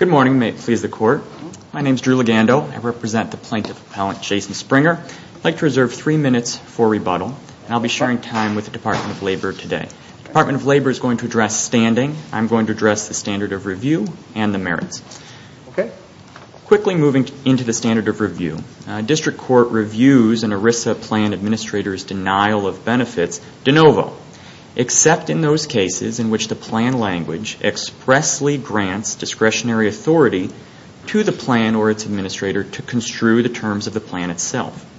Good morning. May it please the Court. My name is Drew Legando. I represent the plaintiff appellant Jason Springer. I'd like to reserve three minutes for rebuttal and I'll be sharing time with the Department of Labor today. The Department of Labor is going to address standing. I'm going to address the standard of review and the merits. Quickly moving into the standard of review, district court reviews an ERISA plan administrator's denial of benefits de novo, except in those cases in which the plan language expressly grants discretionary authority to the plan or its administrator to construe the terms of the plan itself.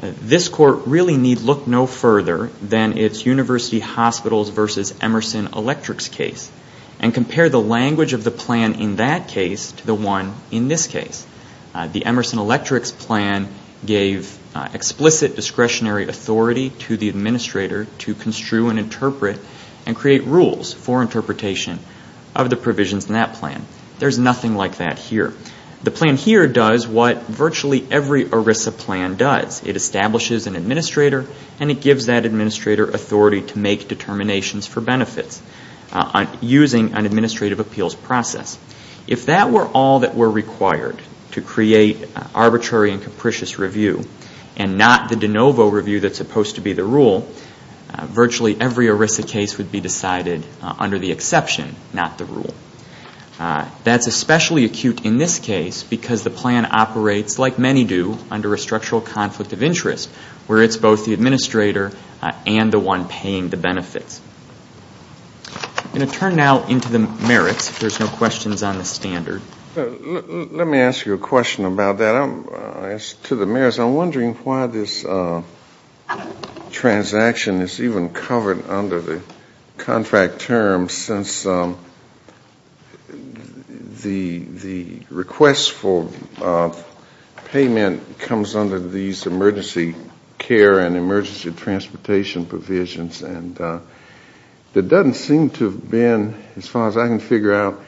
This court really need look no further than its University Hospitals v. Emerson Electric's case and compare the language of the plan in that case to the one in this case. The Emerson Electric's plan gave explicit discretionary authority to the administrator to construe and interpret and create rules for interpretation of the provisions in that plan. There's nothing like that here. The plan here does what virtually every ERISA plan does. It establishes an administrator and it gives that administrator authority to make determinations for benefits using an administrative appeals process. If that were all that were required to create arbitrary and capricious review and not the de novo review that's supposed to be the rule, virtually every ERISA case would be decided under the rule. That's especially acute in this case because the plan operates, like many do, under a structural conflict of interest where it's both the administrator and the one paying the benefits. I'm going to turn now into the merits if there's no questions on the standard. Let me ask you a question about that. As to the merits, I'm wondering why this transaction is even covered under the contract terms since the request for payment comes under these emergency care and emergency transportation provisions. And it doesn't seem to have been, as far as I can figure out,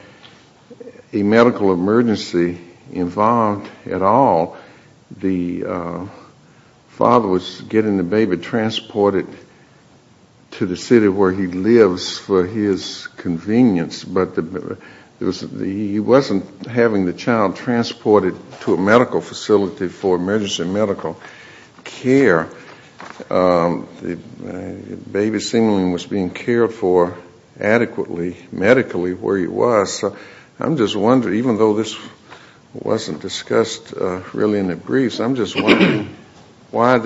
a medical emergency involved at all. The father was getting the to the city where he lives for his convenience, but he wasn't having the child transported to a medical facility for emergency medical care. The baby seemingly was being cared for adequately medically where he was. So I'm just wondering, even though this wasn't discussed in the briefs, I'm just wondering why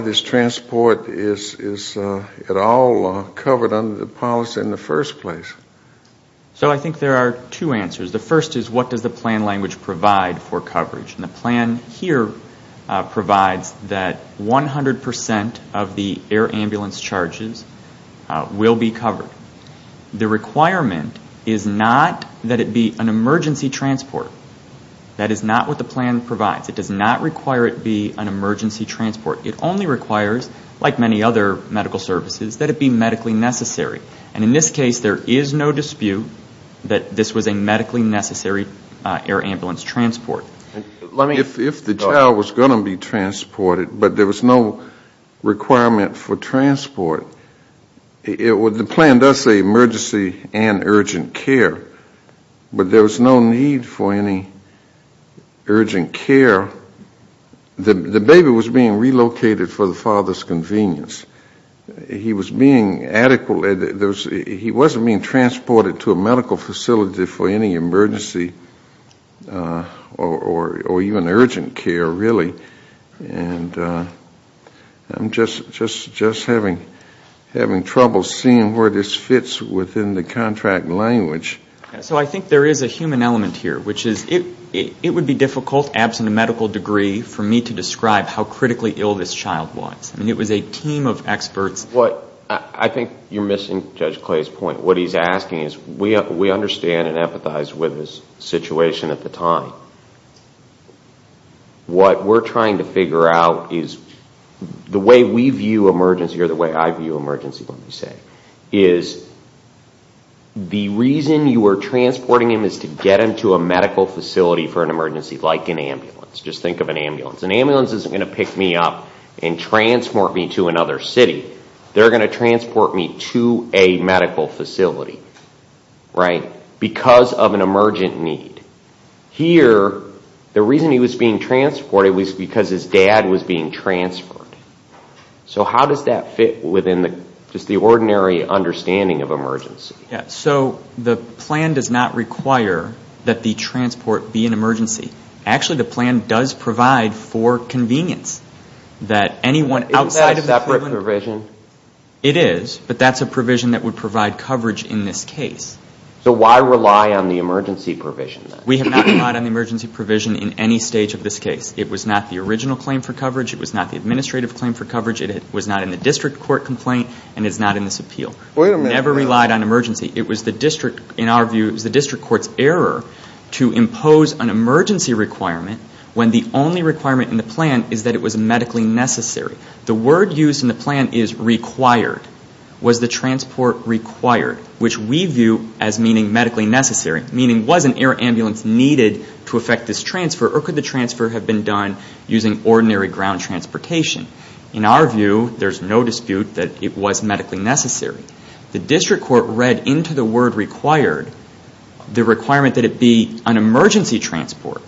this transport is at all covered under the policy in the first place. So I think there are two answers. The first is what does the plan language provide for coverage? The plan here provides that 100% of the air ambulance charges will be covered. The requirement is not that it be an emergency transport. That is not what the plan provides. It does not require it to be an emergency transport. It only requires, like many other medical services, that it be medically necessary. And in this case, there is no dispute that this was a medically necessary air ambulance transport. If the child was going to be transported, but there was no requirement for transport, the plan does say emergency and urgent care. But there was no need for any urgent care. The baby was being relocated for the father's convenience. He was being adequately, he wasn't being transported to a medical facility for any emergency or even urgent care, really. And I'm just having trouble seeing where this fits within the contract language. So I think there is a human element here, which is it would be difficult, absent a medical degree, for me to describe how critically ill this child was. It was a team of experts. I think you're missing Judge Clay's point. What he's asking is, we understand and empathize with his situation at the time. What we're trying to figure out is, the way we view emergency or the way I view emergency, let me say, is the reason you are transporting him is to get him to a medical facility for an emergency, like an ambulance. Just think of an ambulance. An ambulance isn't going to pick me up and transport me to another city. They're going to transport me to a medical facility, right, because of an emergent need. Here, the reason he was being transported was because his dad was being transferred. So how does that fit within just the ordinary understanding of emergency? So the plan does not require that the transport be an emergency. Actually, the plan does provide for convenience, that anyone outside of the prison... Isn't that a separate provision? It is, but that's a provision that would provide coverage in this case. So why rely on the emergency provision, then? We have not relied on the emergency provision in any stage of this case. It was not the original claim for coverage. It was not the administrative claim for coverage. It was not in the district court complaint, and it's not in this appeal. Wait a minute. Never relied on emergency. It was the district, in our view, it was the district court's to impose an emergency requirement when the only requirement in the plan is that it was medically necessary. The word used in the plan is required. Was the transport required, which we view as meaning medically necessary, meaning was an air ambulance needed to affect this transfer, or could the transfer have been done using ordinary ground transportation? In our view, there's no dispute that it was medically necessary. The district court read into the word required the requirement that it be an emergency transport,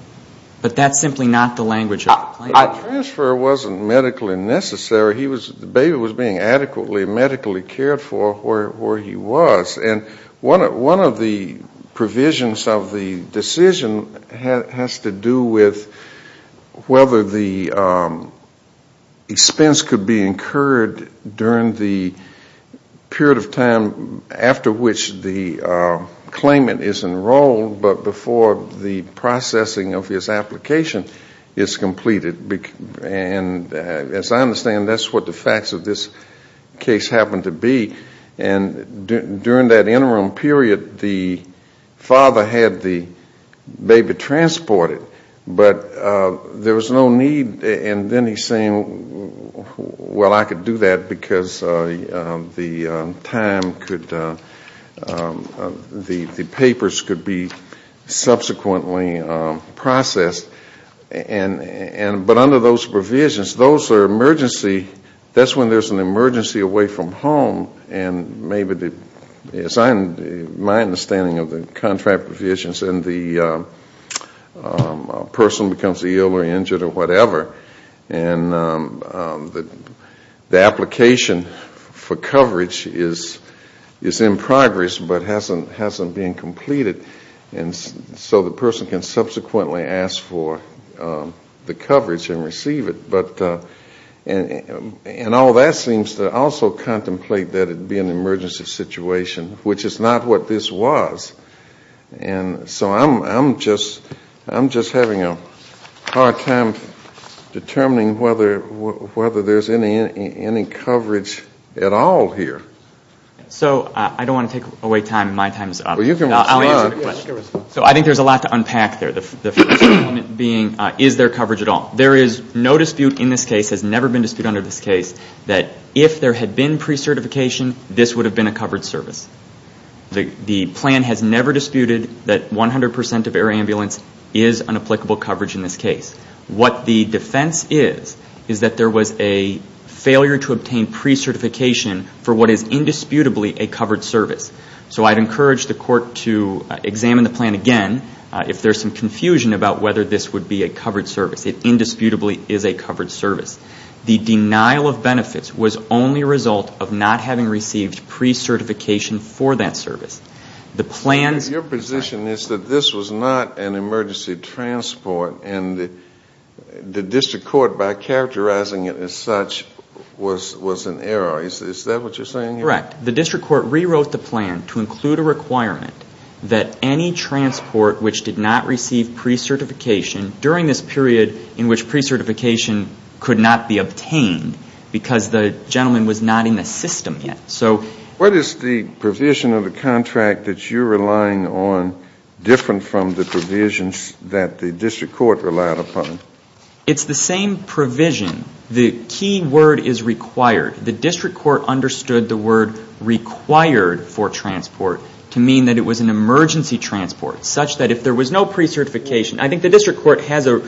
but that's simply not the language of the plan. The transfer wasn't medically necessary. The baby was being adequately medically cared for where he was, and one of the provisions of the decision has to do with whether the period of time after which the claimant is enrolled but before the processing of his application is completed. And as I understand, that's what the facts of this case happen to be. And during that interim period, the father had the baby transported, but there was no need, and then he's saying, well, I could do that because the time could, the papers could be subsequently processed. But under those provisions, those are emergency, that's when there's an emergency away from home, and maybe, as I, my understanding of the contract provisions, and the person becomes ill or injured or whatever, and the application for coverage is in progress but hasn't been completed, and so the person can subsequently ask for the coverage and receive it. But, and all that seems to also contemplate that it be an emergency situation, which is not what this was. And so I'm just having a hard time determining whether there's any coverage at all here. So I don't want to take away time. My time is up. Well, you can respond. So I think there's a lot to unpack there. The first element being, is there coverage at all? There is no dispute in this case, has never been disputed under this case, that if there had been pre-certification, this would have been a covered service. The plan has never disputed that 100% of air ambulance is an applicable coverage in this case. What the defense is, is that there was a failure to obtain pre-certification for what is indisputably a covered service. So I'd encourage the court to examine the plan again if there's some confusion about whether this would be a covered service. It indisputably is a covered service. The denial of benefits was only a result of not having received pre-certification for that service. Your position is that this was not an emergency transport and the district court, by characterizing it as such, was in error. Is that what you're saying here? Correct. The district court rewrote the plan to include a requirement that any transport which did not be obtained because the gentleman was not in the system yet. What is the provision of the contract that you're relying on different from the provisions that the district court relied upon? It's the same provision. The key word is required. The district court understood the word required for transport to mean that it was an emergency transport, such that if there was no pre-certification, I think the district court has an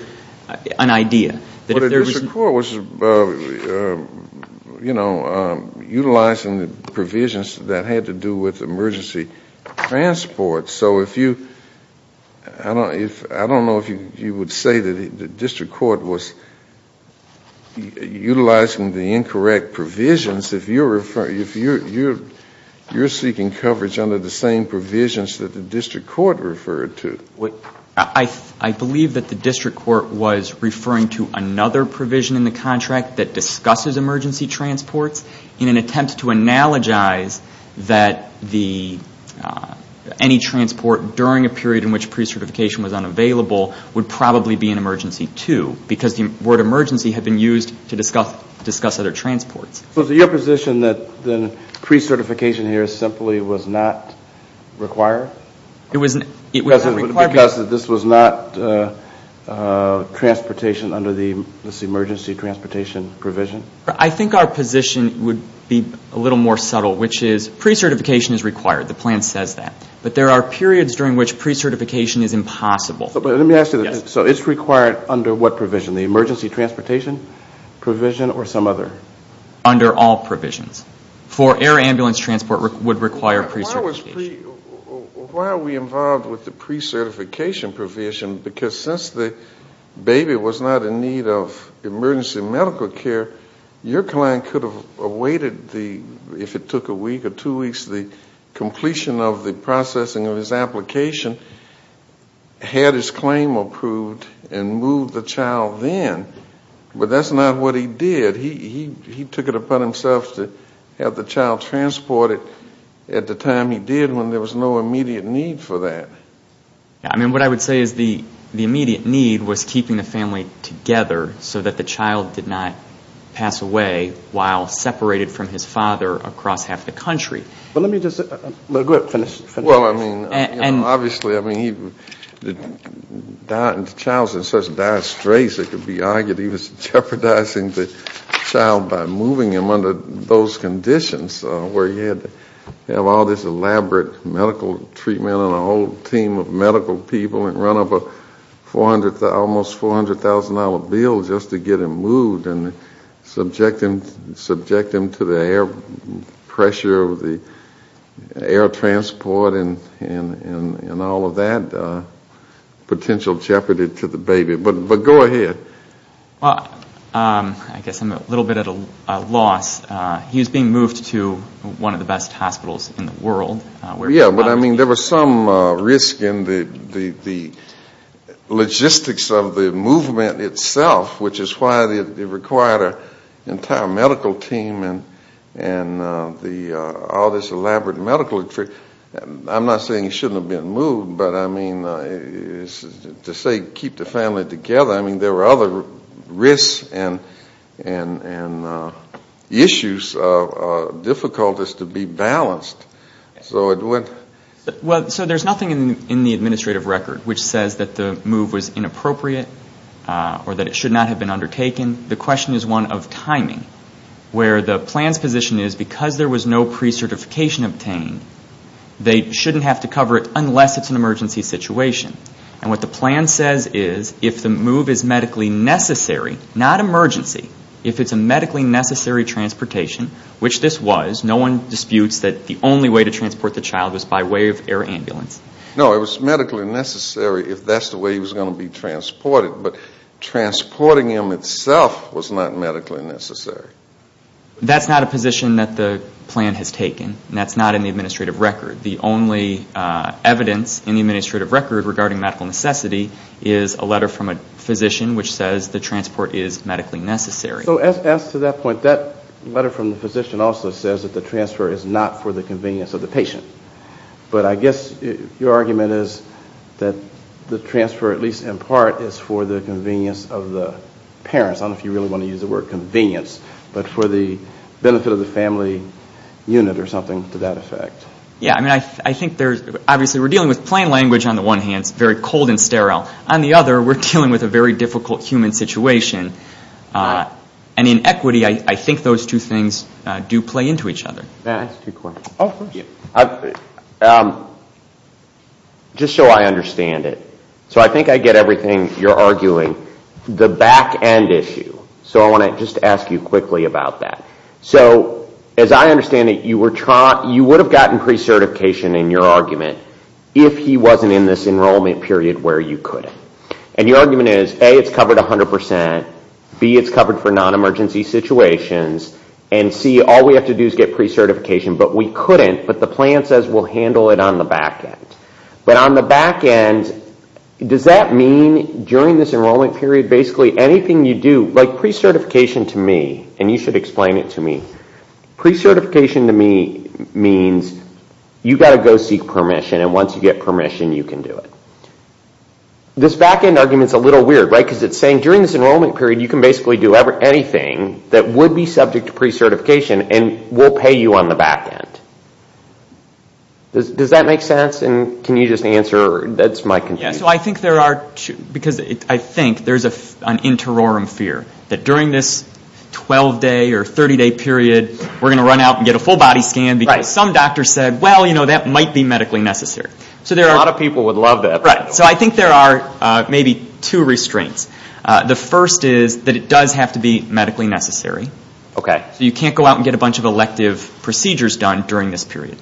idea. But the district court was, you know, utilizing the provisions that had to do with emergency transport. So if you, I don't know if you would say that the district court was utilizing the incorrect provisions if you're seeking coverage under the same provisions that the district court referred to. I believe that the district court was referring to another provision in the contract that discusses emergency transports in an attempt to analogize that any transport during a period in which pre-certification was unavailable would probably be an emergency too. Because the word emergency had been used to discuss other transports. So is it your position that pre-certification here simply was not required? Because this was not transportation under this emergency transportation provision? I think our position would be a little more subtle, which is pre-certification is required. The plan says that. But there are periods during which pre-certification is impossible. But let me ask you this. So it's required under what provision? The emergency transportation provision or some other? Under all provisions. For air ambulance transport would require pre-certification. Why are we involved with the pre-certification provision? Because since the baby was not in need of emergency medical care, your client could have awaited the, if it took a week or two weeks, the completion of the processing of his application, had his claim approved and moved the child then. But that's not what he did. He took it upon himself to have the child transported at the time he did when there was no immediate need for that. I mean, what I would say is the immediate need was keeping the family together so that the child did not pass away while separated from his father across half the country. Let me just finish. Well, I mean, obviously, I mean, the child is in such dire straits it could be argued he was jeopardizing the child by moving him under those conditions where he had to have all this elaborate medical treatment and a whole team of medical people and run up an almost $400,000 bill just to get him moved and subject him to the air pressure of the air transport and all of that potential jeopardy to the baby. But go ahead. I guess I'm a little bit at a loss. He was being moved to one of the best hospitals in the world. Yeah, but I mean, there was some risk in the logistics of the movement itself, which is why it required an entire medical team and all this elaborate medical treatment. I'm not saying he shouldn't have been moved, but I mean, to say keep the family together, I mean, there were other risks and issues, difficulties to be balanced. Well, so there's nothing in the administrative record which says that the move was inappropriate or that it should not have been undertaken. The question is one of timing where the plan's position is because there was no pre-certification obtained, they shouldn't have to cover it unless it's an emergency situation. And what the plan says is if the move is medically necessary, not emergency, if it's a medically necessary transportation, which this was, no one disputes that the only way to transport the child was by way of air ambulance. No, it was medically necessary if that's the way he was going to be transported, but transporting him itself was not medically necessary. That's not a position that the plan has taken. That's not in the administrative record. The only evidence in the administrative record regarding medical necessity is a letter from a physician which says the transport is medically necessary. So as to that point, that letter from the physician also says that the transfer is not for the convenience of the patient. But I guess your argument is that the transfer at least in part is for the convenience of the parents. I don't know if you really want to use the word convenience, but for the benefit of the family unit or something to that effect. Yeah, I mean, I think there's, obviously we're dealing with plain language on the one hand, it's very cold and sterile. On the other, we're dealing with a very difficult human situation. And in equity, I think those two things do play into each other. Matt, I have two questions. Oh, of course. Just so I understand it. So I think I get everything you're arguing. The back end issue. So I want to just ask you quickly about that. So as I understand it, you would have gotten pre-certification in your argument if he wasn't in this enrollment period where you couldn't. And your argument is, A, it's covered 100%. B, it's covered for non-emergency situations. And C, all we have to do is get pre-certification, but we couldn't. But the plan says we'll handle it on the back end. But on the back end, does that mean during this enrollment period, basically anything you do, like pre-certification to me, and you should explain it to me, pre-certification to me means you've got to go seek permission, and once you get permission, you can do it. This back end argument is a little weird, right? Because it's saying during this enrollment period, you can basically do anything that would be subject to pre-certification, and we'll pay you on the back end. Does that make sense? And can you just answer? That's my confusion. Because I think there's an interorum fear that during this 12-day or 30-day period, we're going to run out and get a full body scan because some doctor said, well, you know, that might be medically necessary. A lot of people would love that. So I think there are maybe two restraints. The first is that it does have to be medically necessary. So you can't go out and get a bunch of elective procedures done during this period.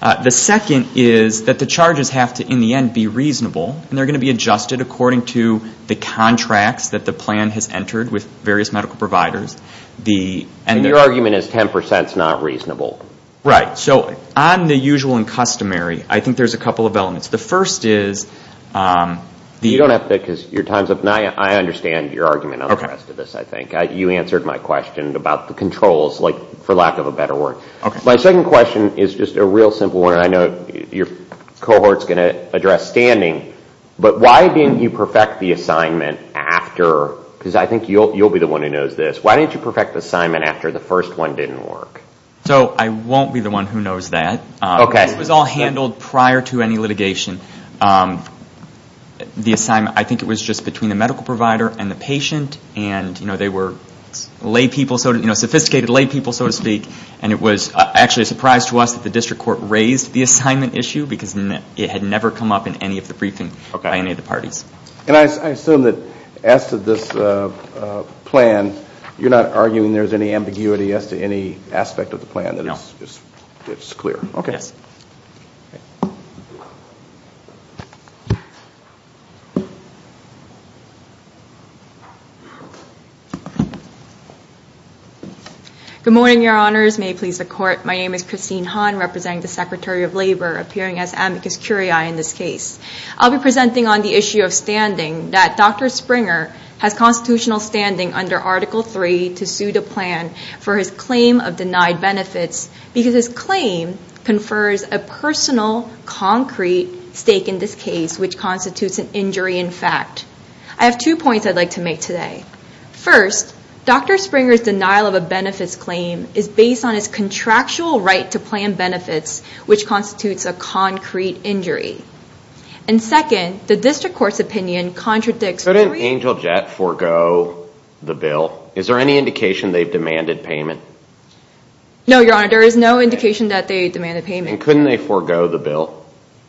The second is that the charges have to, in the end, be reasonable, and they're going to be adjusted according to the contracts that the plan has entered with various medical providers. And your argument is 10% is not reasonable. Right. So on the usual and customary, I think there's a couple of elements. The first is the – You don't have to, because your time's up, and I understand your argument on the rest of this, I think. You answered my question about the controls, for lack of a better word. My second question is just a real simple one, and I know your cohort's going to address standing, but why didn't you perfect the assignment after – because I think you'll be the one who knows this. Why didn't you perfect the assignment after the first one didn't work? So I won't be the one who knows that. This was all handled prior to any litigation. The assignment, I think it was just between the medical provider and the patient, and they were sophisticated laypeople, so to speak, and it was actually a surprise to us that the district court raised the assignment issue because it had never come up in any of the briefings by any of the parties. And I assume that as to this plan, you're not arguing there's any ambiguity as to any aspect of the plan that is clear. No. Okay. Yes. Thank you. Good morning, Your Honors. May it please the Court. My name is Christine Han, representing the Secretary of Labor, appearing as amicus curiae in this case. I'll be presenting on the issue of standing, that Dr. Springer has constitutional standing under Article III to sue the plan for his claim of denied benefits because his claim confers a personal, concrete stake in this case, which constitutes an injury in fact. I have two points I'd like to make today. First, Dr. Springer's denial of a benefits claim is based on his contractual right to plan benefits, which constitutes a concrete injury. And second, the district court's opinion contradicts So didn't Angel Jet forgo the bill? Is there any indication they've demanded payment? No, Your Honor. There is no indication that they demanded payment. And couldn't they forgo the bill?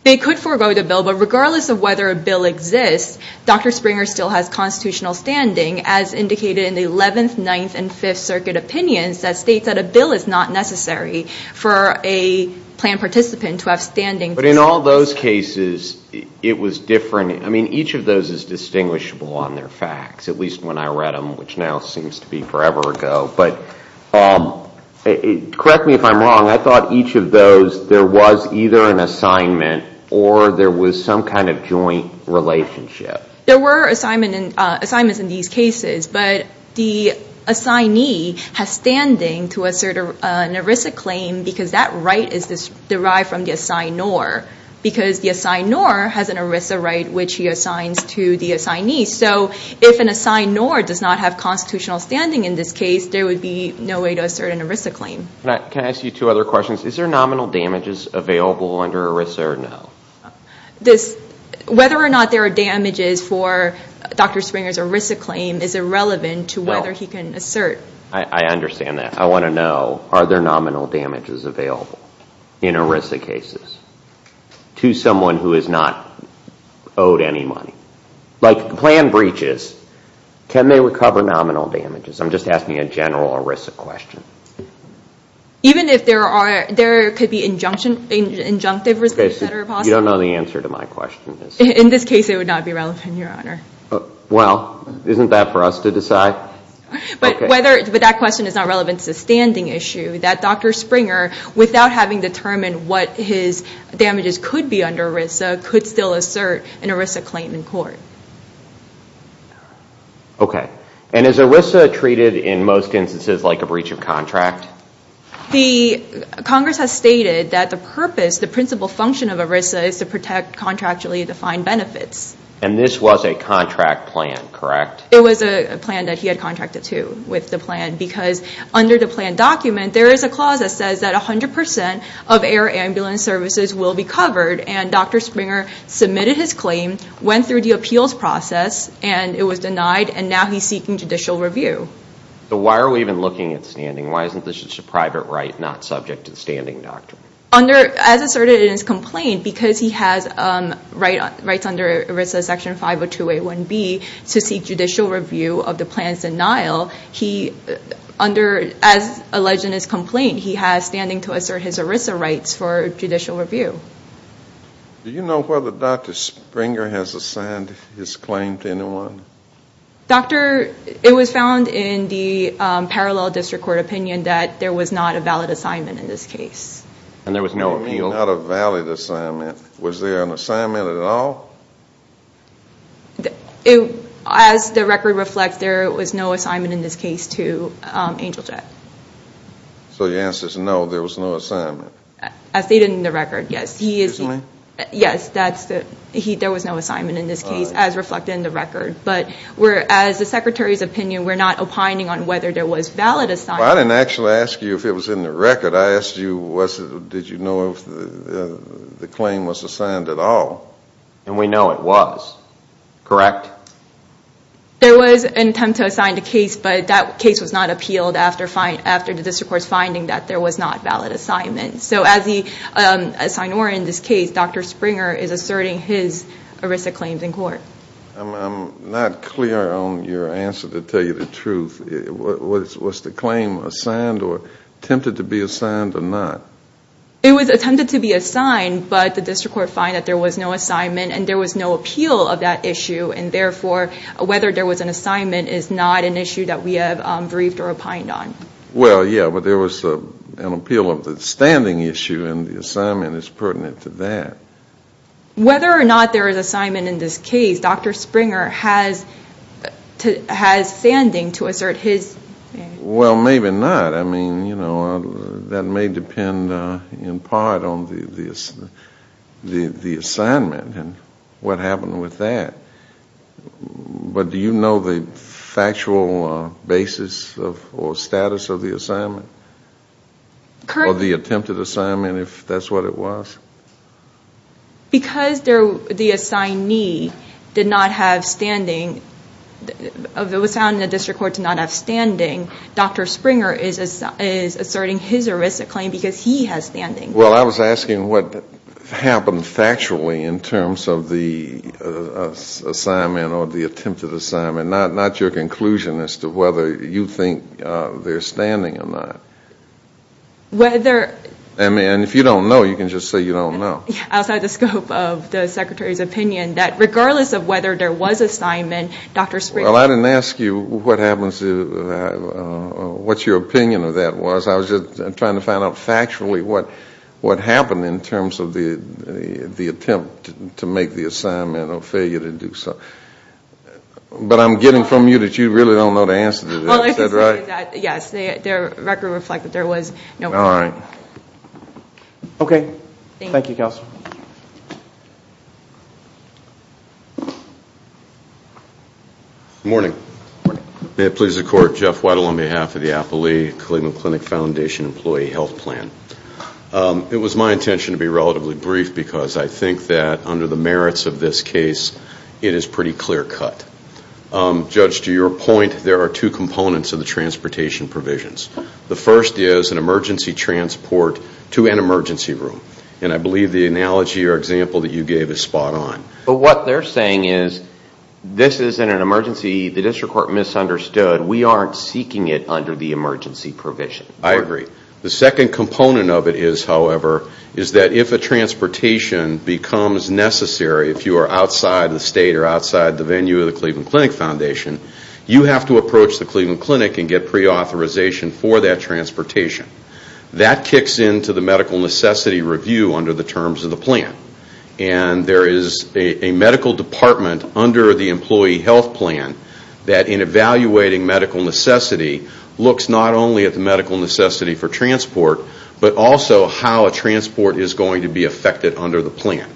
They could forgo the bill, but regardless of whether a bill exists, Dr. Springer still has constitutional standing, as indicated in the 11th, 9th, and 5th Circuit opinions that state that a bill is not necessary for a plan participant to have standing. But in all those cases, it was different. I mean, each of those is distinguishable on their facts, at least when I read them, which now seems to be forever ago. But correct me if I'm wrong. I thought each of those, there was either an assignment or there was some kind of joint relationship. There were assignments in these cases, but the assignee has standing to assert an ERISA claim because that right is derived from the assignor, because the assignor has an ERISA right, which he assigns to the assignee. So if an assignor does not have constitutional standing in this case, there would be no way to assert an ERISA claim. Can I ask you two other questions? Is there nominal damages available under ERISA or no? Whether or not there are damages for Dr. Springer's ERISA claim is irrelevant to whether he can assert. I understand that. I want to know, are there nominal damages available in ERISA cases to someone who is not owed any money? Like plan breaches. Can they recover nominal damages? I'm just asking a general ERISA question. Even if there are, there could be injunctive risks that are possible? You don't know the answer to my question. In this case, it would not be relevant, Your Honor. Well, isn't that for us to decide? But that question is not relevant to the standing issue, that Dr. Springer, without having determined what his damages could be under ERISA, could still assert an ERISA claim in court. Okay, and is ERISA treated in most instances like a breach of contract? Congress has stated that the purpose, the principal function of ERISA is to protect contractually defined benefits. And this was a contract plan, correct? It was a plan that he had contracted to with the plan because under the plan document, there is a clause that says that 100% of air ambulance services will be covered and Dr. Springer submitted his claim, went through the appeals process, and it was denied, and now he's seeking judicial review. So why are we even looking at standing? Why isn't this just a private right not subject to the standing doctrine? As asserted in his complaint, because he has rights under ERISA Section 50281B to seek judicial review of the plan's denial, as alleged in his complaint, he has standing to assert his ERISA rights for judicial review. Do you know whether Dr. Springer has assigned his claim to anyone? Doctor, it was found in the parallel district court opinion that there was not a valid assignment in this case. And there was no appeal? What do you mean not a valid assignment? Was there an assignment at all? As the record reflects, there was no assignment in this case to Angel Jet. So your answer is no, there was no assignment? As stated in the record, yes. Excuse me? Yes, there was no assignment in this case as reflected in the record. But as the Secretary's opinion, we're not opining on whether there was valid assignment. Well, I didn't actually ask you if it was in the record. I asked you did you know if the claim was assigned at all. And we know it was. Correct? There was an attempt to assign the case, but that case was not appealed after the district court's finding that there was not valid assignment. So as he assigned more in this case, Dr. Springer is asserting his ERISA claims in court. I'm not clear on your answer to tell you the truth. Was the claim assigned or attempted to be assigned or not? It was attempted to be assigned, but the district court found that there was no assignment and there was no appeal of that issue, and therefore whether there was an assignment is not an issue that we have briefed or opined on. Well, yeah, but there was an appeal of the standing issue, and the assignment is pertinent to that. Whether or not there is assignment in this case, Dr. Springer has standing to assert his. Well, maybe not. I mean, you know, that may depend in part on the assignment and what happened with that. But do you know the factual basis or status of the assignment? Or the attempted assignment, if that's what it was? Because the assignee did not have standing, it was found in the district court to not have standing, Dr. Springer is asserting his or his claim because he has standing. Well, I was asking what happened factually in terms of the assignment or the attempted assignment, not your conclusion as to whether you think they're standing or not. Whether... And if you don't know, you can just say you don't know. Outside the scope of the Secretary's opinion, that regardless of whether there was assignment, Dr. Springer... Well, I didn't ask you what your opinion of that was. I was just trying to find out factually what happened in terms of the attempt to make the assignment or failure to do so. But I'm getting from you that you really don't know the answer to that. Is that right? Yes. The record reflected there was no... All right. Okay. Thank you, Counselor. Good morning. Good morning. May it please the Court. Jeff Whittle on behalf of the Appley-Coligna Clinic Foundation Employee Health Plan. It was my intention to be relatively brief because I think that under the merits of this case, it is pretty clear cut. Judge, to your point, there are two components of the transportation provisions. The first is an emergency transport to an emergency room. And I believe the analogy or example that you gave is spot on. But what they're saying is this isn't an emergency. The district court misunderstood. We aren't seeking it under the emergency provision. I agree. The second component of it is, however, is that if a transportation becomes necessary, if you are outside the state or outside the venue of the Cleveland Clinic Foundation, you have to approach the Cleveland Clinic and get preauthorization for that transportation. That kicks into the medical necessity review under the terms of the plan. And there is a medical department under the employee health plan that in evaluating medical necessity looks not only at the medical necessity for transport, but also how a transport is going to be affected under the plan.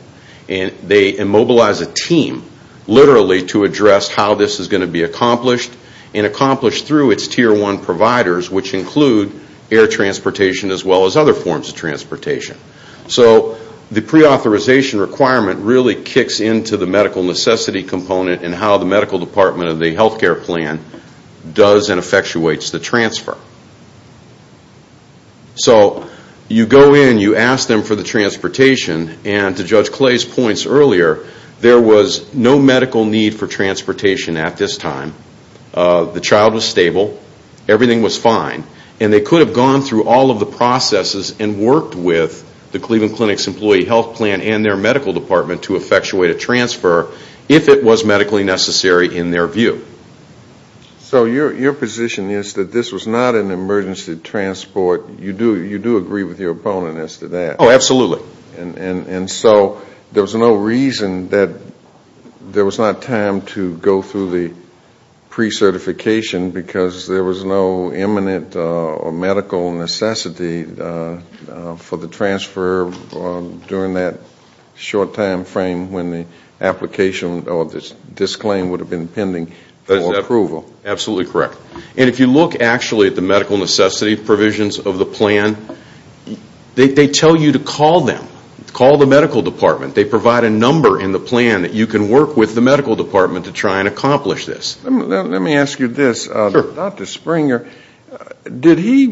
And they immobilize a team, literally, to address how this is going to be accomplished and accomplished through its tier one providers, which include air transportation as well as other forms of transportation. So the preauthorization requirement really kicks into the medical necessity component and how the medical department of the health care plan does and effectuates the transfer. So you go in, you ask them for the transportation, and to Judge Clay's points earlier, there was no medical need for transportation at this time. The child was stable. Everything was fine. And they could have gone through all of the processes and worked with the Cleveland Clinic's employee health plan and their medical department to effectuate a transfer if it was medically necessary in their view. So your position is that this was not an emergency transport. You do agree with your opponent as to that. Oh, absolutely. And so there was no reason that there was not time to go through the precertification because there was no imminent or medical necessity for the transfer during that short time frame when the application or the disclaim would have been pending for approval. Absolutely correct. And if you look actually at the medical necessity provisions of the plan, they tell you to call them, call the medical department. They provide a number in the plan that you can work with the medical department to try and accomplish this. Let me ask you this. Sure. Dr. Springer, did he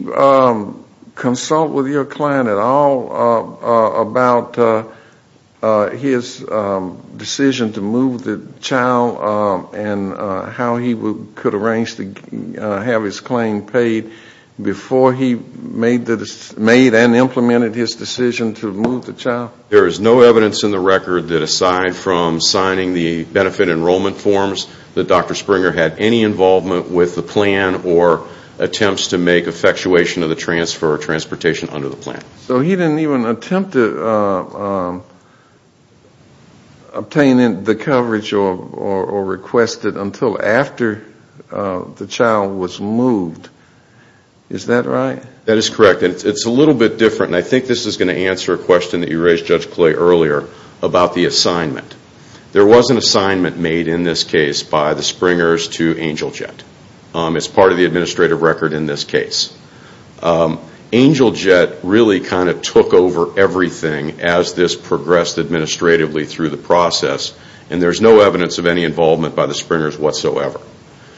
consult with your client at all about his decision to move the child and how he could arrange to have his claim paid before he made and implemented his decision to move the child? There is no evidence in the record that aside from signing the benefit enrollment forms that Dr. Springer had any involvement with the plan or attempts to make effectuation of the transfer or transportation under the plan. So he didn't even attempt to obtain the coverage or request it until after the child was moved. Is that right? That is correct. It's a little bit different, and I think this is going to answer a question that you raised, Judge Clay, earlier about the assignment. There was an assignment made in this case by the Springers to Angel Jet. It's part of the administrative record in this case. Angel Jet really kind of took over everything as this progressed administratively through the process, and there's no evidence of any involvement by the Springers whatsoever.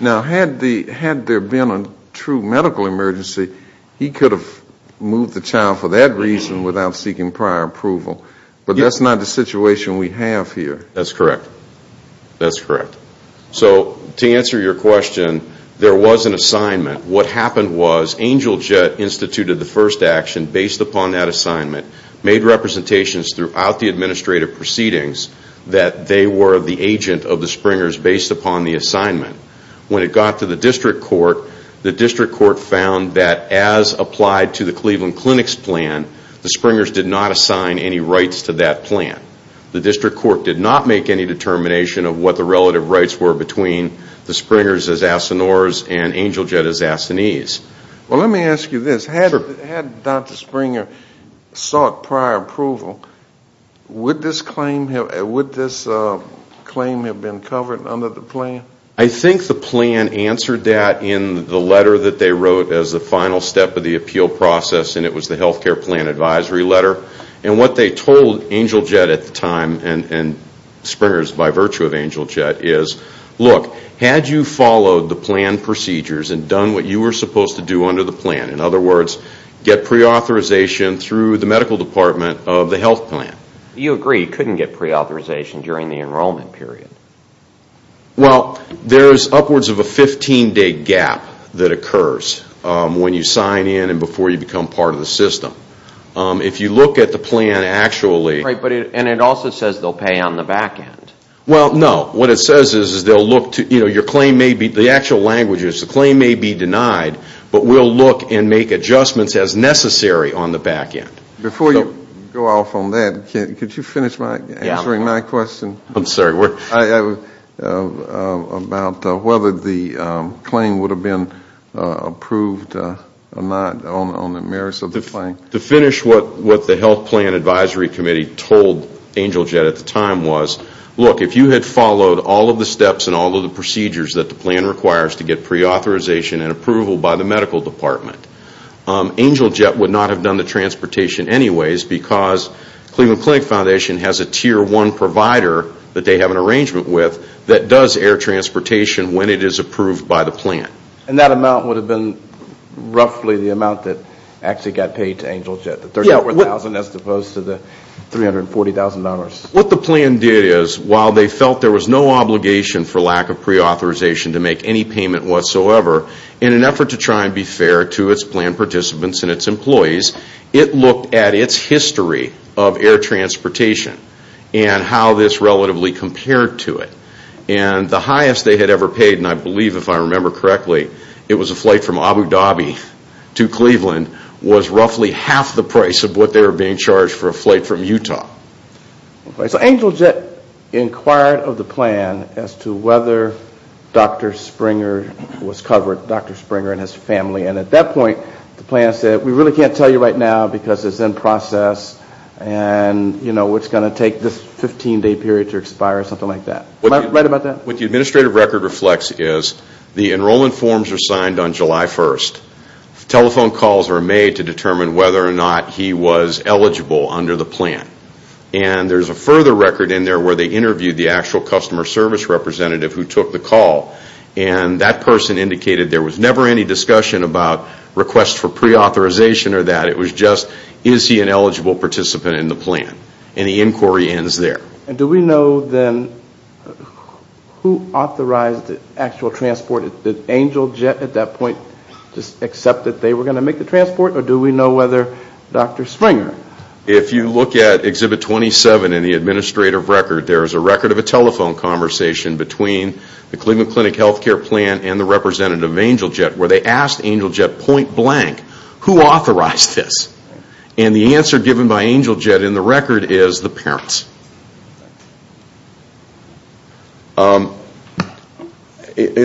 Now, had there been a true medical emergency, he could have moved the child for that reason without seeking prior approval, but that's not the situation we have here. That's correct. That's correct. So to answer your question, there was an assignment. What happened was Angel Jet instituted the first action based upon that assignment, made representations throughout the administrative proceedings that they were the agent of the Springers based upon the assignment. When it got to the district court, the district court found that as applied to the Cleveland Clinic's plan, the Springers did not assign any rights to that plan. The district court did not make any determination of what the relative rights were between the Springers as Asinores and Angel Jet as Assinees. Well, let me ask you this. Had Dr. Springer sought prior approval, would this claim have been covered under the plan? I think the plan answered that in the letter that they wrote as the final step of the appeal process, and it was the health care plan advisory letter. And what they told Angel Jet at the time, and Springers by virtue of Angel Jet, is, look, had you followed the plan procedures and done what you were supposed to do under the plan, in other words, get preauthorization through the medical department of the health plan? You agree you couldn't get preauthorization during the enrollment period. Well, there's upwards of a 15-day gap that occurs when you sign in and before you become part of the system. If you look at the plan actually... Right, and it also says they'll pay on the back end. Well, no. What it says is they'll look to, you know, your claim may be, the actual language is the claim may be denied, but we'll look and make adjustments as necessary on the back end. Before you go off on that, could you finish answering my question? I'm sorry. About whether the claim would have been approved or not on the merits of the claim. To finish what the health plan advisory committee told Angel Jet at the time was, look, if you had followed all of the steps and all of the procedures that the plan requires to get preauthorization and approval by the medical department, Angel Jet would not have done the transportation anyways because Cleveland Clinic Foundation has a tier one provider that they have an arrangement with that does air transportation when it is approved by the plan. And that amount would have been roughly the amount that actually got paid to Angel Jet, the $34,000 as opposed to the $340,000. What the plan did is, while they felt there was no obligation for lack of preauthorization to make any payment whatsoever, in an effort to try and be fair to its plan participants and its employees, it looked at its history of air transportation and how this relatively compared to it. And the highest they had ever paid, and I believe if I remember correctly, it was a flight from Abu Dhabi to Cleveland, was roughly half the price of what they were being charged for a flight from Utah. So Angel Jet inquired of the plan as to whether Dr. Springer was covered, Dr. Springer and his family, and at that point the plan said, we really can't tell you right now because it's in process, and it's going to take this 15-day period to expire, something like that. Am I right about that? What the administrative record reflects is, the enrollment forms are signed on July 1st. Telephone calls are made to determine whether or not he was eligible under the plan. And there's a further record in there where they interviewed the actual customer service representative who took the call, and that person indicated there was never any discussion about requests for pre-authorization or that. It was just, is he an eligible participant in the plan? And the inquiry ends there. And do we know then who authorized the actual transport? Did Angel Jet at that point just accept that they were going to make the transport, or do we know whether Dr. Springer? If you look at Exhibit 27 in the administrative record, there is a record of a telephone conversation between the Cleveland Clinic Health Care Plan and the representative of Angel Jet where they asked Angel Jet point blank, who authorized this? And the answer given by Angel Jet in the record is the parents.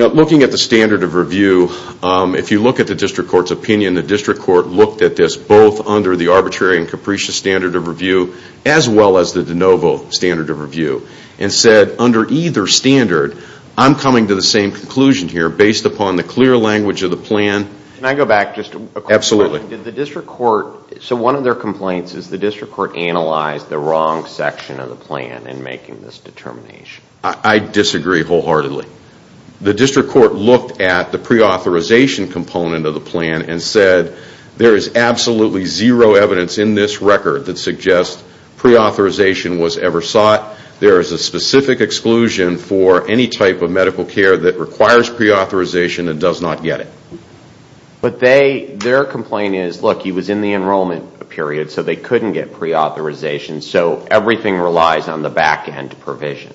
Looking at the standard of review, if you look at the district court's opinion, the district court looked at this both under the arbitrary and capricious standard of review as well as the de novo standard of review, and said under either standard, I'm coming to the same conclusion here based upon the clear language of the plan. Can I go back just a question? Absolutely. Did the district court, so one of their complaints is the district court analyzed the wrong section of the plan in making this determination. I disagree wholeheartedly. The district court looked at the pre-authorization component of the plan and said, there is absolutely zero evidence in this record that suggests pre-authorization was ever sought. There is a specific exclusion for any type of medical care that requires pre-authorization and does not get it. But their complaint is, look, he was in the enrollment period, so they couldn't get pre-authorization, so everything relies on the back end provision.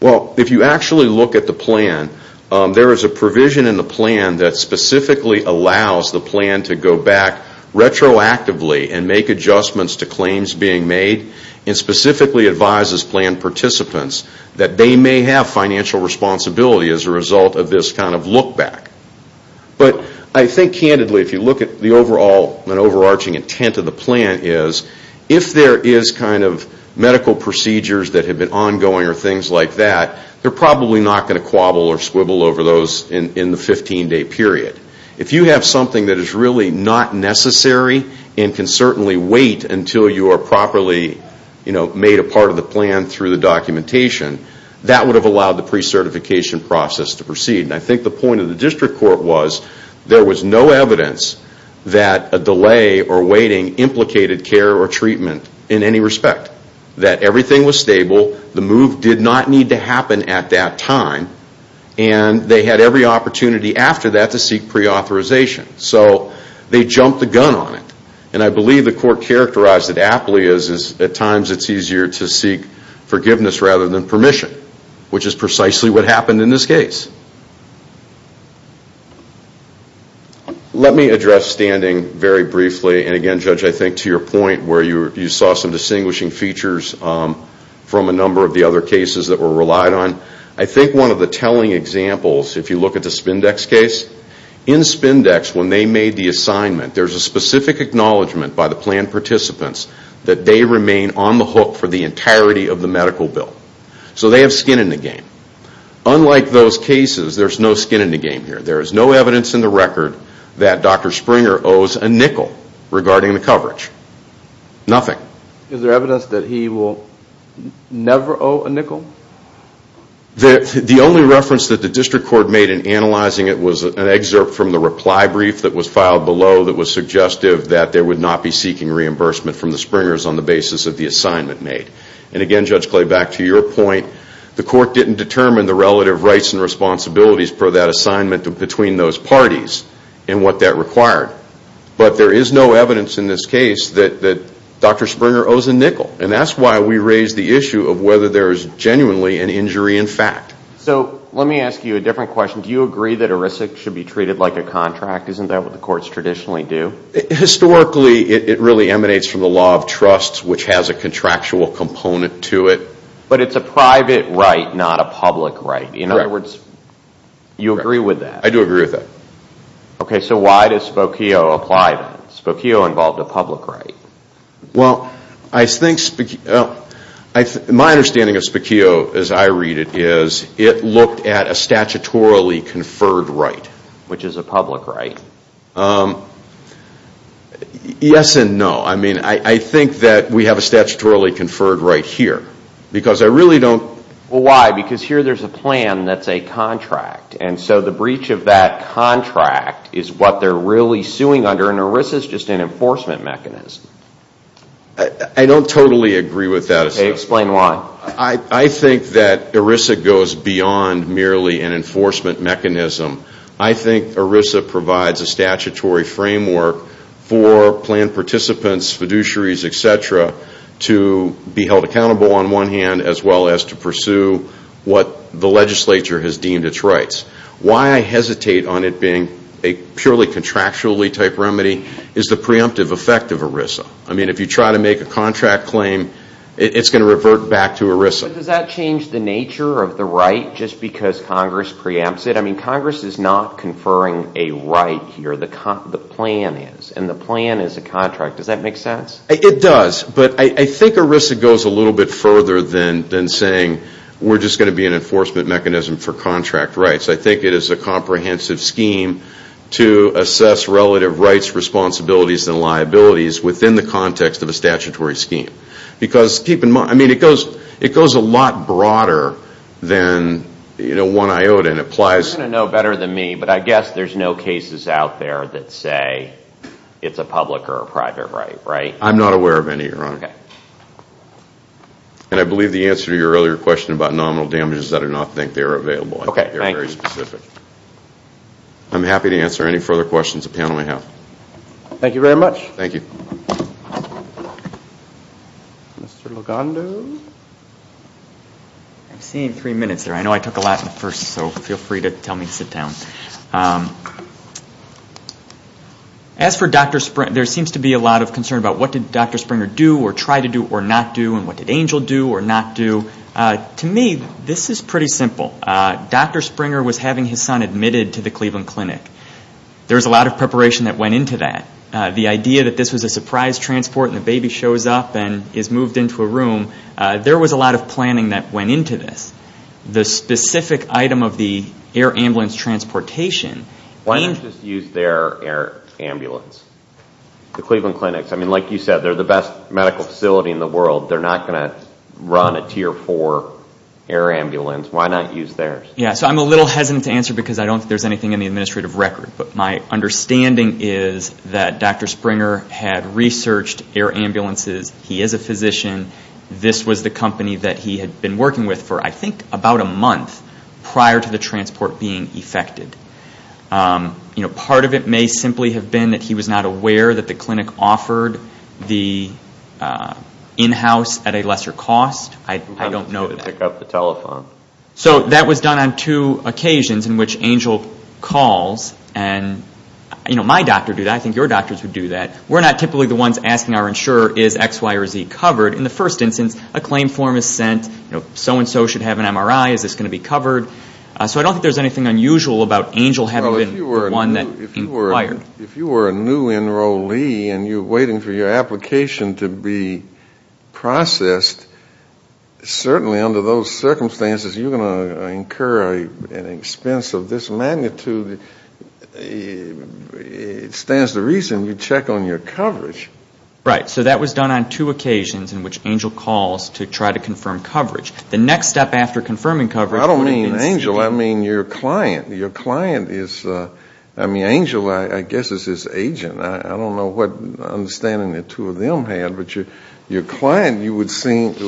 Well, if you actually look at the plan, there is a provision in the plan that specifically allows the plan to go back retroactively and make adjustments to claims being made and specifically advises plan participants that they may have financial responsibility as a result of this kind of look back. But I think candidly, if you look at the overall and overarching intent of the plan, is if there is kind of medical procedures that have been ongoing or things like that, they're probably not going to quabble or squibble over those in the 15-day period. If you have something that is really not necessary and can certainly wait until you are properly made a part of the plan and through the documentation, that would have allowed the pre-certification process to proceed. And I think the point of the district court was there was no evidence that a delay or waiting implicated care or treatment in any respect, that everything was stable, the move did not need to happen at that time, and they had every opportunity after that to seek pre-authorization. So they jumped the gun on it. And I believe the court characterized it aptly is at times it's easier to seek forgiveness rather than permission, which is precisely what happened in this case. Let me address standing very briefly, and again, Judge, I think to your point where you saw some distinguishing features from a number of the other cases that were relied on. I think one of the telling examples, if you look at the Spindex case, in Spindex when they made the assignment, there's a specific acknowledgment by the plan participants that they remain on the hook for the entirety of the medical bill. So they have skin in the game. Unlike those cases, there's no skin in the game here. There is no evidence in the record that Dr. Springer owes a nickel regarding the coverage. Nothing. Is there evidence that he will never owe a nickel? The only reference that the district court made in analyzing it was an excerpt from the reply brief that was filed below that was suggestive that they would not be seeking reimbursement from the Springers on the basis of the assignment made. Again, Judge Clay, back to your point, the court didn't determine the relative rights and responsibilities for that assignment between those parties and what that required. But there is no evidence in this case that Dr. Springer owes a nickel, and that's why we raise the issue of whether there is genuinely an injury in fact. Let me ask you a different question. Do you agree that a risk should be treated like a contract? Isn't that what the courts traditionally do? Historically, it really emanates from the law of trust, which has a contractual component to it. But it's a private right, not a public right. In other words, you agree with that? I do agree with that. Okay, so why does Spokio apply that? Spokio involved a public right. Well, my understanding of Spokio as I read it is it looked at a statutorily conferred right, which is a public right. Yes and no. I mean, I think that we have a statutorily conferred right here, because I really don't... Well, why? Because here there's a plan that's a contract, and so the breach of that contract is what they're really suing under, and ERISA is just an enforcement mechanism. I don't totally agree with that. Okay, explain why. I think that ERISA goes beyond merely an enforcement mechanism. I think ERISA provides a statutory framework for plan participants, fiduciaries, et cetera, to be held accountable on one hand, as well as to pursue what the legislature has deemed its rights. Why I hesitate on it being a purely contractually type remedy is the preemptive effect of ERISA. I mean, if you try to make a contract claim, it's going to revert back to ERISA. But does that change the nature of the right just because Congress preempts it? I mean, Congress is not conferring a right here. The plan is, and the plan is a contract. Does that make sense? It does. But I think ERISA goes a little bit further than saying we're just going to be an enforcement mechanism for contract rights. I think it is a comprehensive scheme to assess relative rights, responsibilities, and liabilities within the context of a statutory scheme. I mean, it goes a lot broader than one iota. You're going to know better than me, but I guess there's no cases out there that say it's a public or a private right, right? I'm not aware of any, Your Honor. And I believe the answer to your earlier question about nominal damages, I do not think they are available. They're very specific. I'm happy to answer any further questions the panel may have. Thank you very much. Thank you. Mr. Lugando? I'm seeing three minutes there. I know I took a lot in the first, so feel free to tell me to sit down. As for Dr. Springer, there seems to be a lot of concern about what did Dr. Springer do or try to do or not do, and what did Angel do or not do. To me, this is pretty simple. Dr. Springer was having his son admitted to the Cleveland Clinic. There was a lot of preparation that went into that. The idea that this was a surprise transport, and the baby shows up and is moved into a room, there was a lot of planning that went into this. The specific item of the air ambulance transportation. Why not just use their air ambulance? The Cleveland Clinic. Like you said, they're the best medical facility in the world. They're not going to run a Tier 4 air ambulance. Why not use theirs? I'm a little hesitant to answer because I don't think there's anything in the administrative record. But my understanding is that Dr. Springer had researched air ambulances. He is a physician. This was the company that he had been working with for, I think, about a month, prior to the transport being effected. Part of it may simply have been that he was not aware that the clinic offered the in-house at a lesser cost. I don't know that. So that was done on two occasions in which Angel calls. My doctor would do that. I think your doctors would do that. We're not typically the ones asking our insurer, is X, Y, or Z covered? In the first instance, a claim form is sent. So-and-so should have an MRI. Is this going to be covered? So I don't think there's anything unusual about Angel having been the one that inquired. If you were a new enrollee and you're waiting for your application to be processed, certainly under those circumstances you're going to incur an expense of this magnitude. It stands to reason you check on your coverage. Right. So that was done on two occasions in which Angel calls to try to confirm coverage. The next step after confirming coverage- I don't mean Angel. I mean your client. I mean Angel, I guess, is his agent. I don't know what understanding the two of them had. But your client, you would think,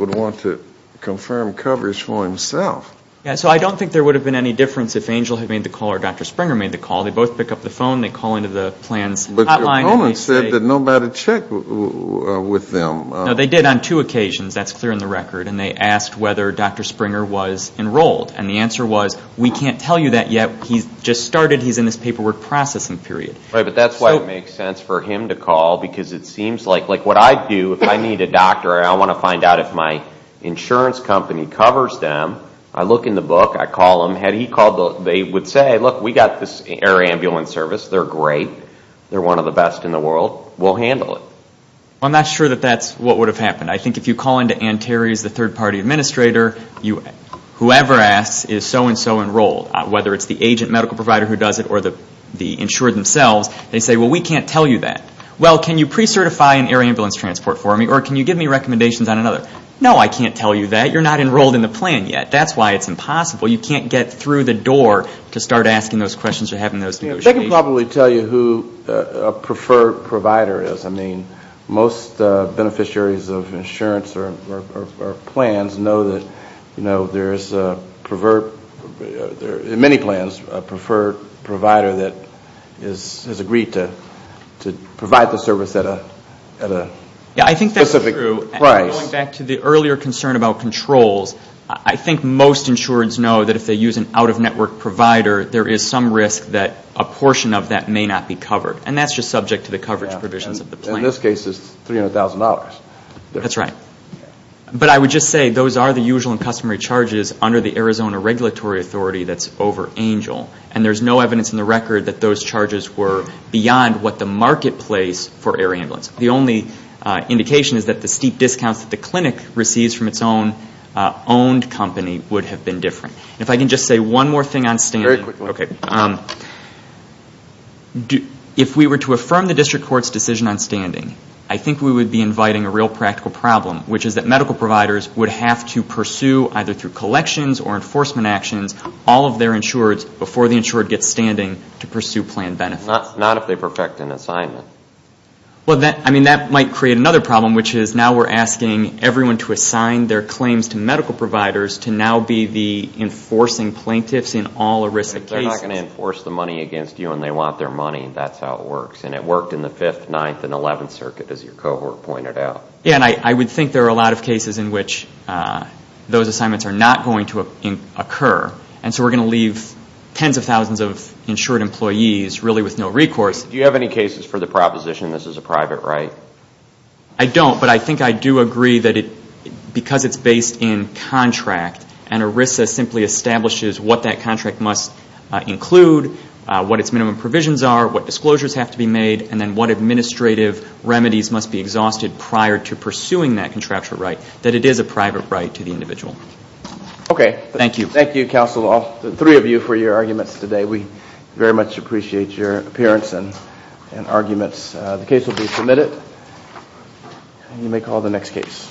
would want to confirm coverage for himself. So I don't think there would have been any difference if Angel had made the call or Dr. Springer made the call. They both pick up the phone. They call into the plans hotline. But your opponent said that nobody checked with them. No, they did on two occasions. That's clear in the record. And they asked whether Dr. Springer was enrolled. And the answer was, we can't tell you that yet. He's just started. He's in this paperwork processing period. Right, but that's why it makes sense for him to call because it seems like what I'd do if I need a doctor and I want to find out if my insurance company covers them, I look in the book. I call them. Had he called, they would say, look, we've got this air ambulance service. They're great. They're one of the best in the world. We'll handle it. I'm not sure that that's what would have happened. I think if you call into Ann Terry's, the third-party administrator, whoever asks is so-and-so enrolled, whether it's the agent medical provider who does it or the insurer themselves. They say, well, we can't tell you that. Well, can you pre-certify an air ambulance transport for me or can you give me recommendations on another? No, I can't tell you that. You're not enrolled in the plan yet. That's why it's impossible. You can't get through the door to start asking those questions or having those negotiations. They can probably tell you who a preferred provider is. I mean, most beneficiaries of insurance or plans know that, you know, there's a preferred, in many plans, a preferred provider that has agreed to provide the service at a specific price. Yeah, I think that's true. Going back to the earlier concern about controls, I think most insurers know that if they use an out-of-network provider, there is some risk that a portion of that may not be covered. And that's just subject to the coverage provisions of the plan. In this case, it's $300,000. That's right. But I would just say those are the usual and customary charges under the Arizona regulatory authority that's over ANGEL. And there's no evidence in the record that those charges were beyond what the marketplace for air ambulance. The only indication is that the steep discounts that the clinic receives from its own owned company would have been different. If I can just say one more thing on standard. Very quickly. Okay. If we were to affirm the district court's decision on standing, I think we would be inviting a real practical problem, which is that medical providers would have to pursue, either through collections or enforcement actions, all of their insurers before the insurer gets standing to pursue plan benefits. Not if they perfect an assignment. Well, I mean, that might create another problem, which is now we're asking everyone to assign their claims to medical providers to now be the enforcing plaintiffs in all aristic cases. They're not going to enforce the money against you when they want their money. That's how it works. And it worked in the 5th, 9th, and 11th circuit, as your cohort pointed out. Yeah, and I would think there are a lot of cases in which those assignments are not going to occur. And so we're going to leave tens of thousands of insured employees really with no recourse. Do you have any cases for the proposition this is a private right? I don't, but I think I do agree that because it's based in contract and ERISA simply establishes what that contract must include, what its minimum provisions are, what disclosures have to be made, and then what administrative remedies must be exhausted prior to pursuing that contractual right, that it is a private right to the individual. Okay. Thank you. Thank you, counsel, all three of you for your arguments today. We very much appreciate your appearance and arguments. The case will be submitted, and you may call the next case.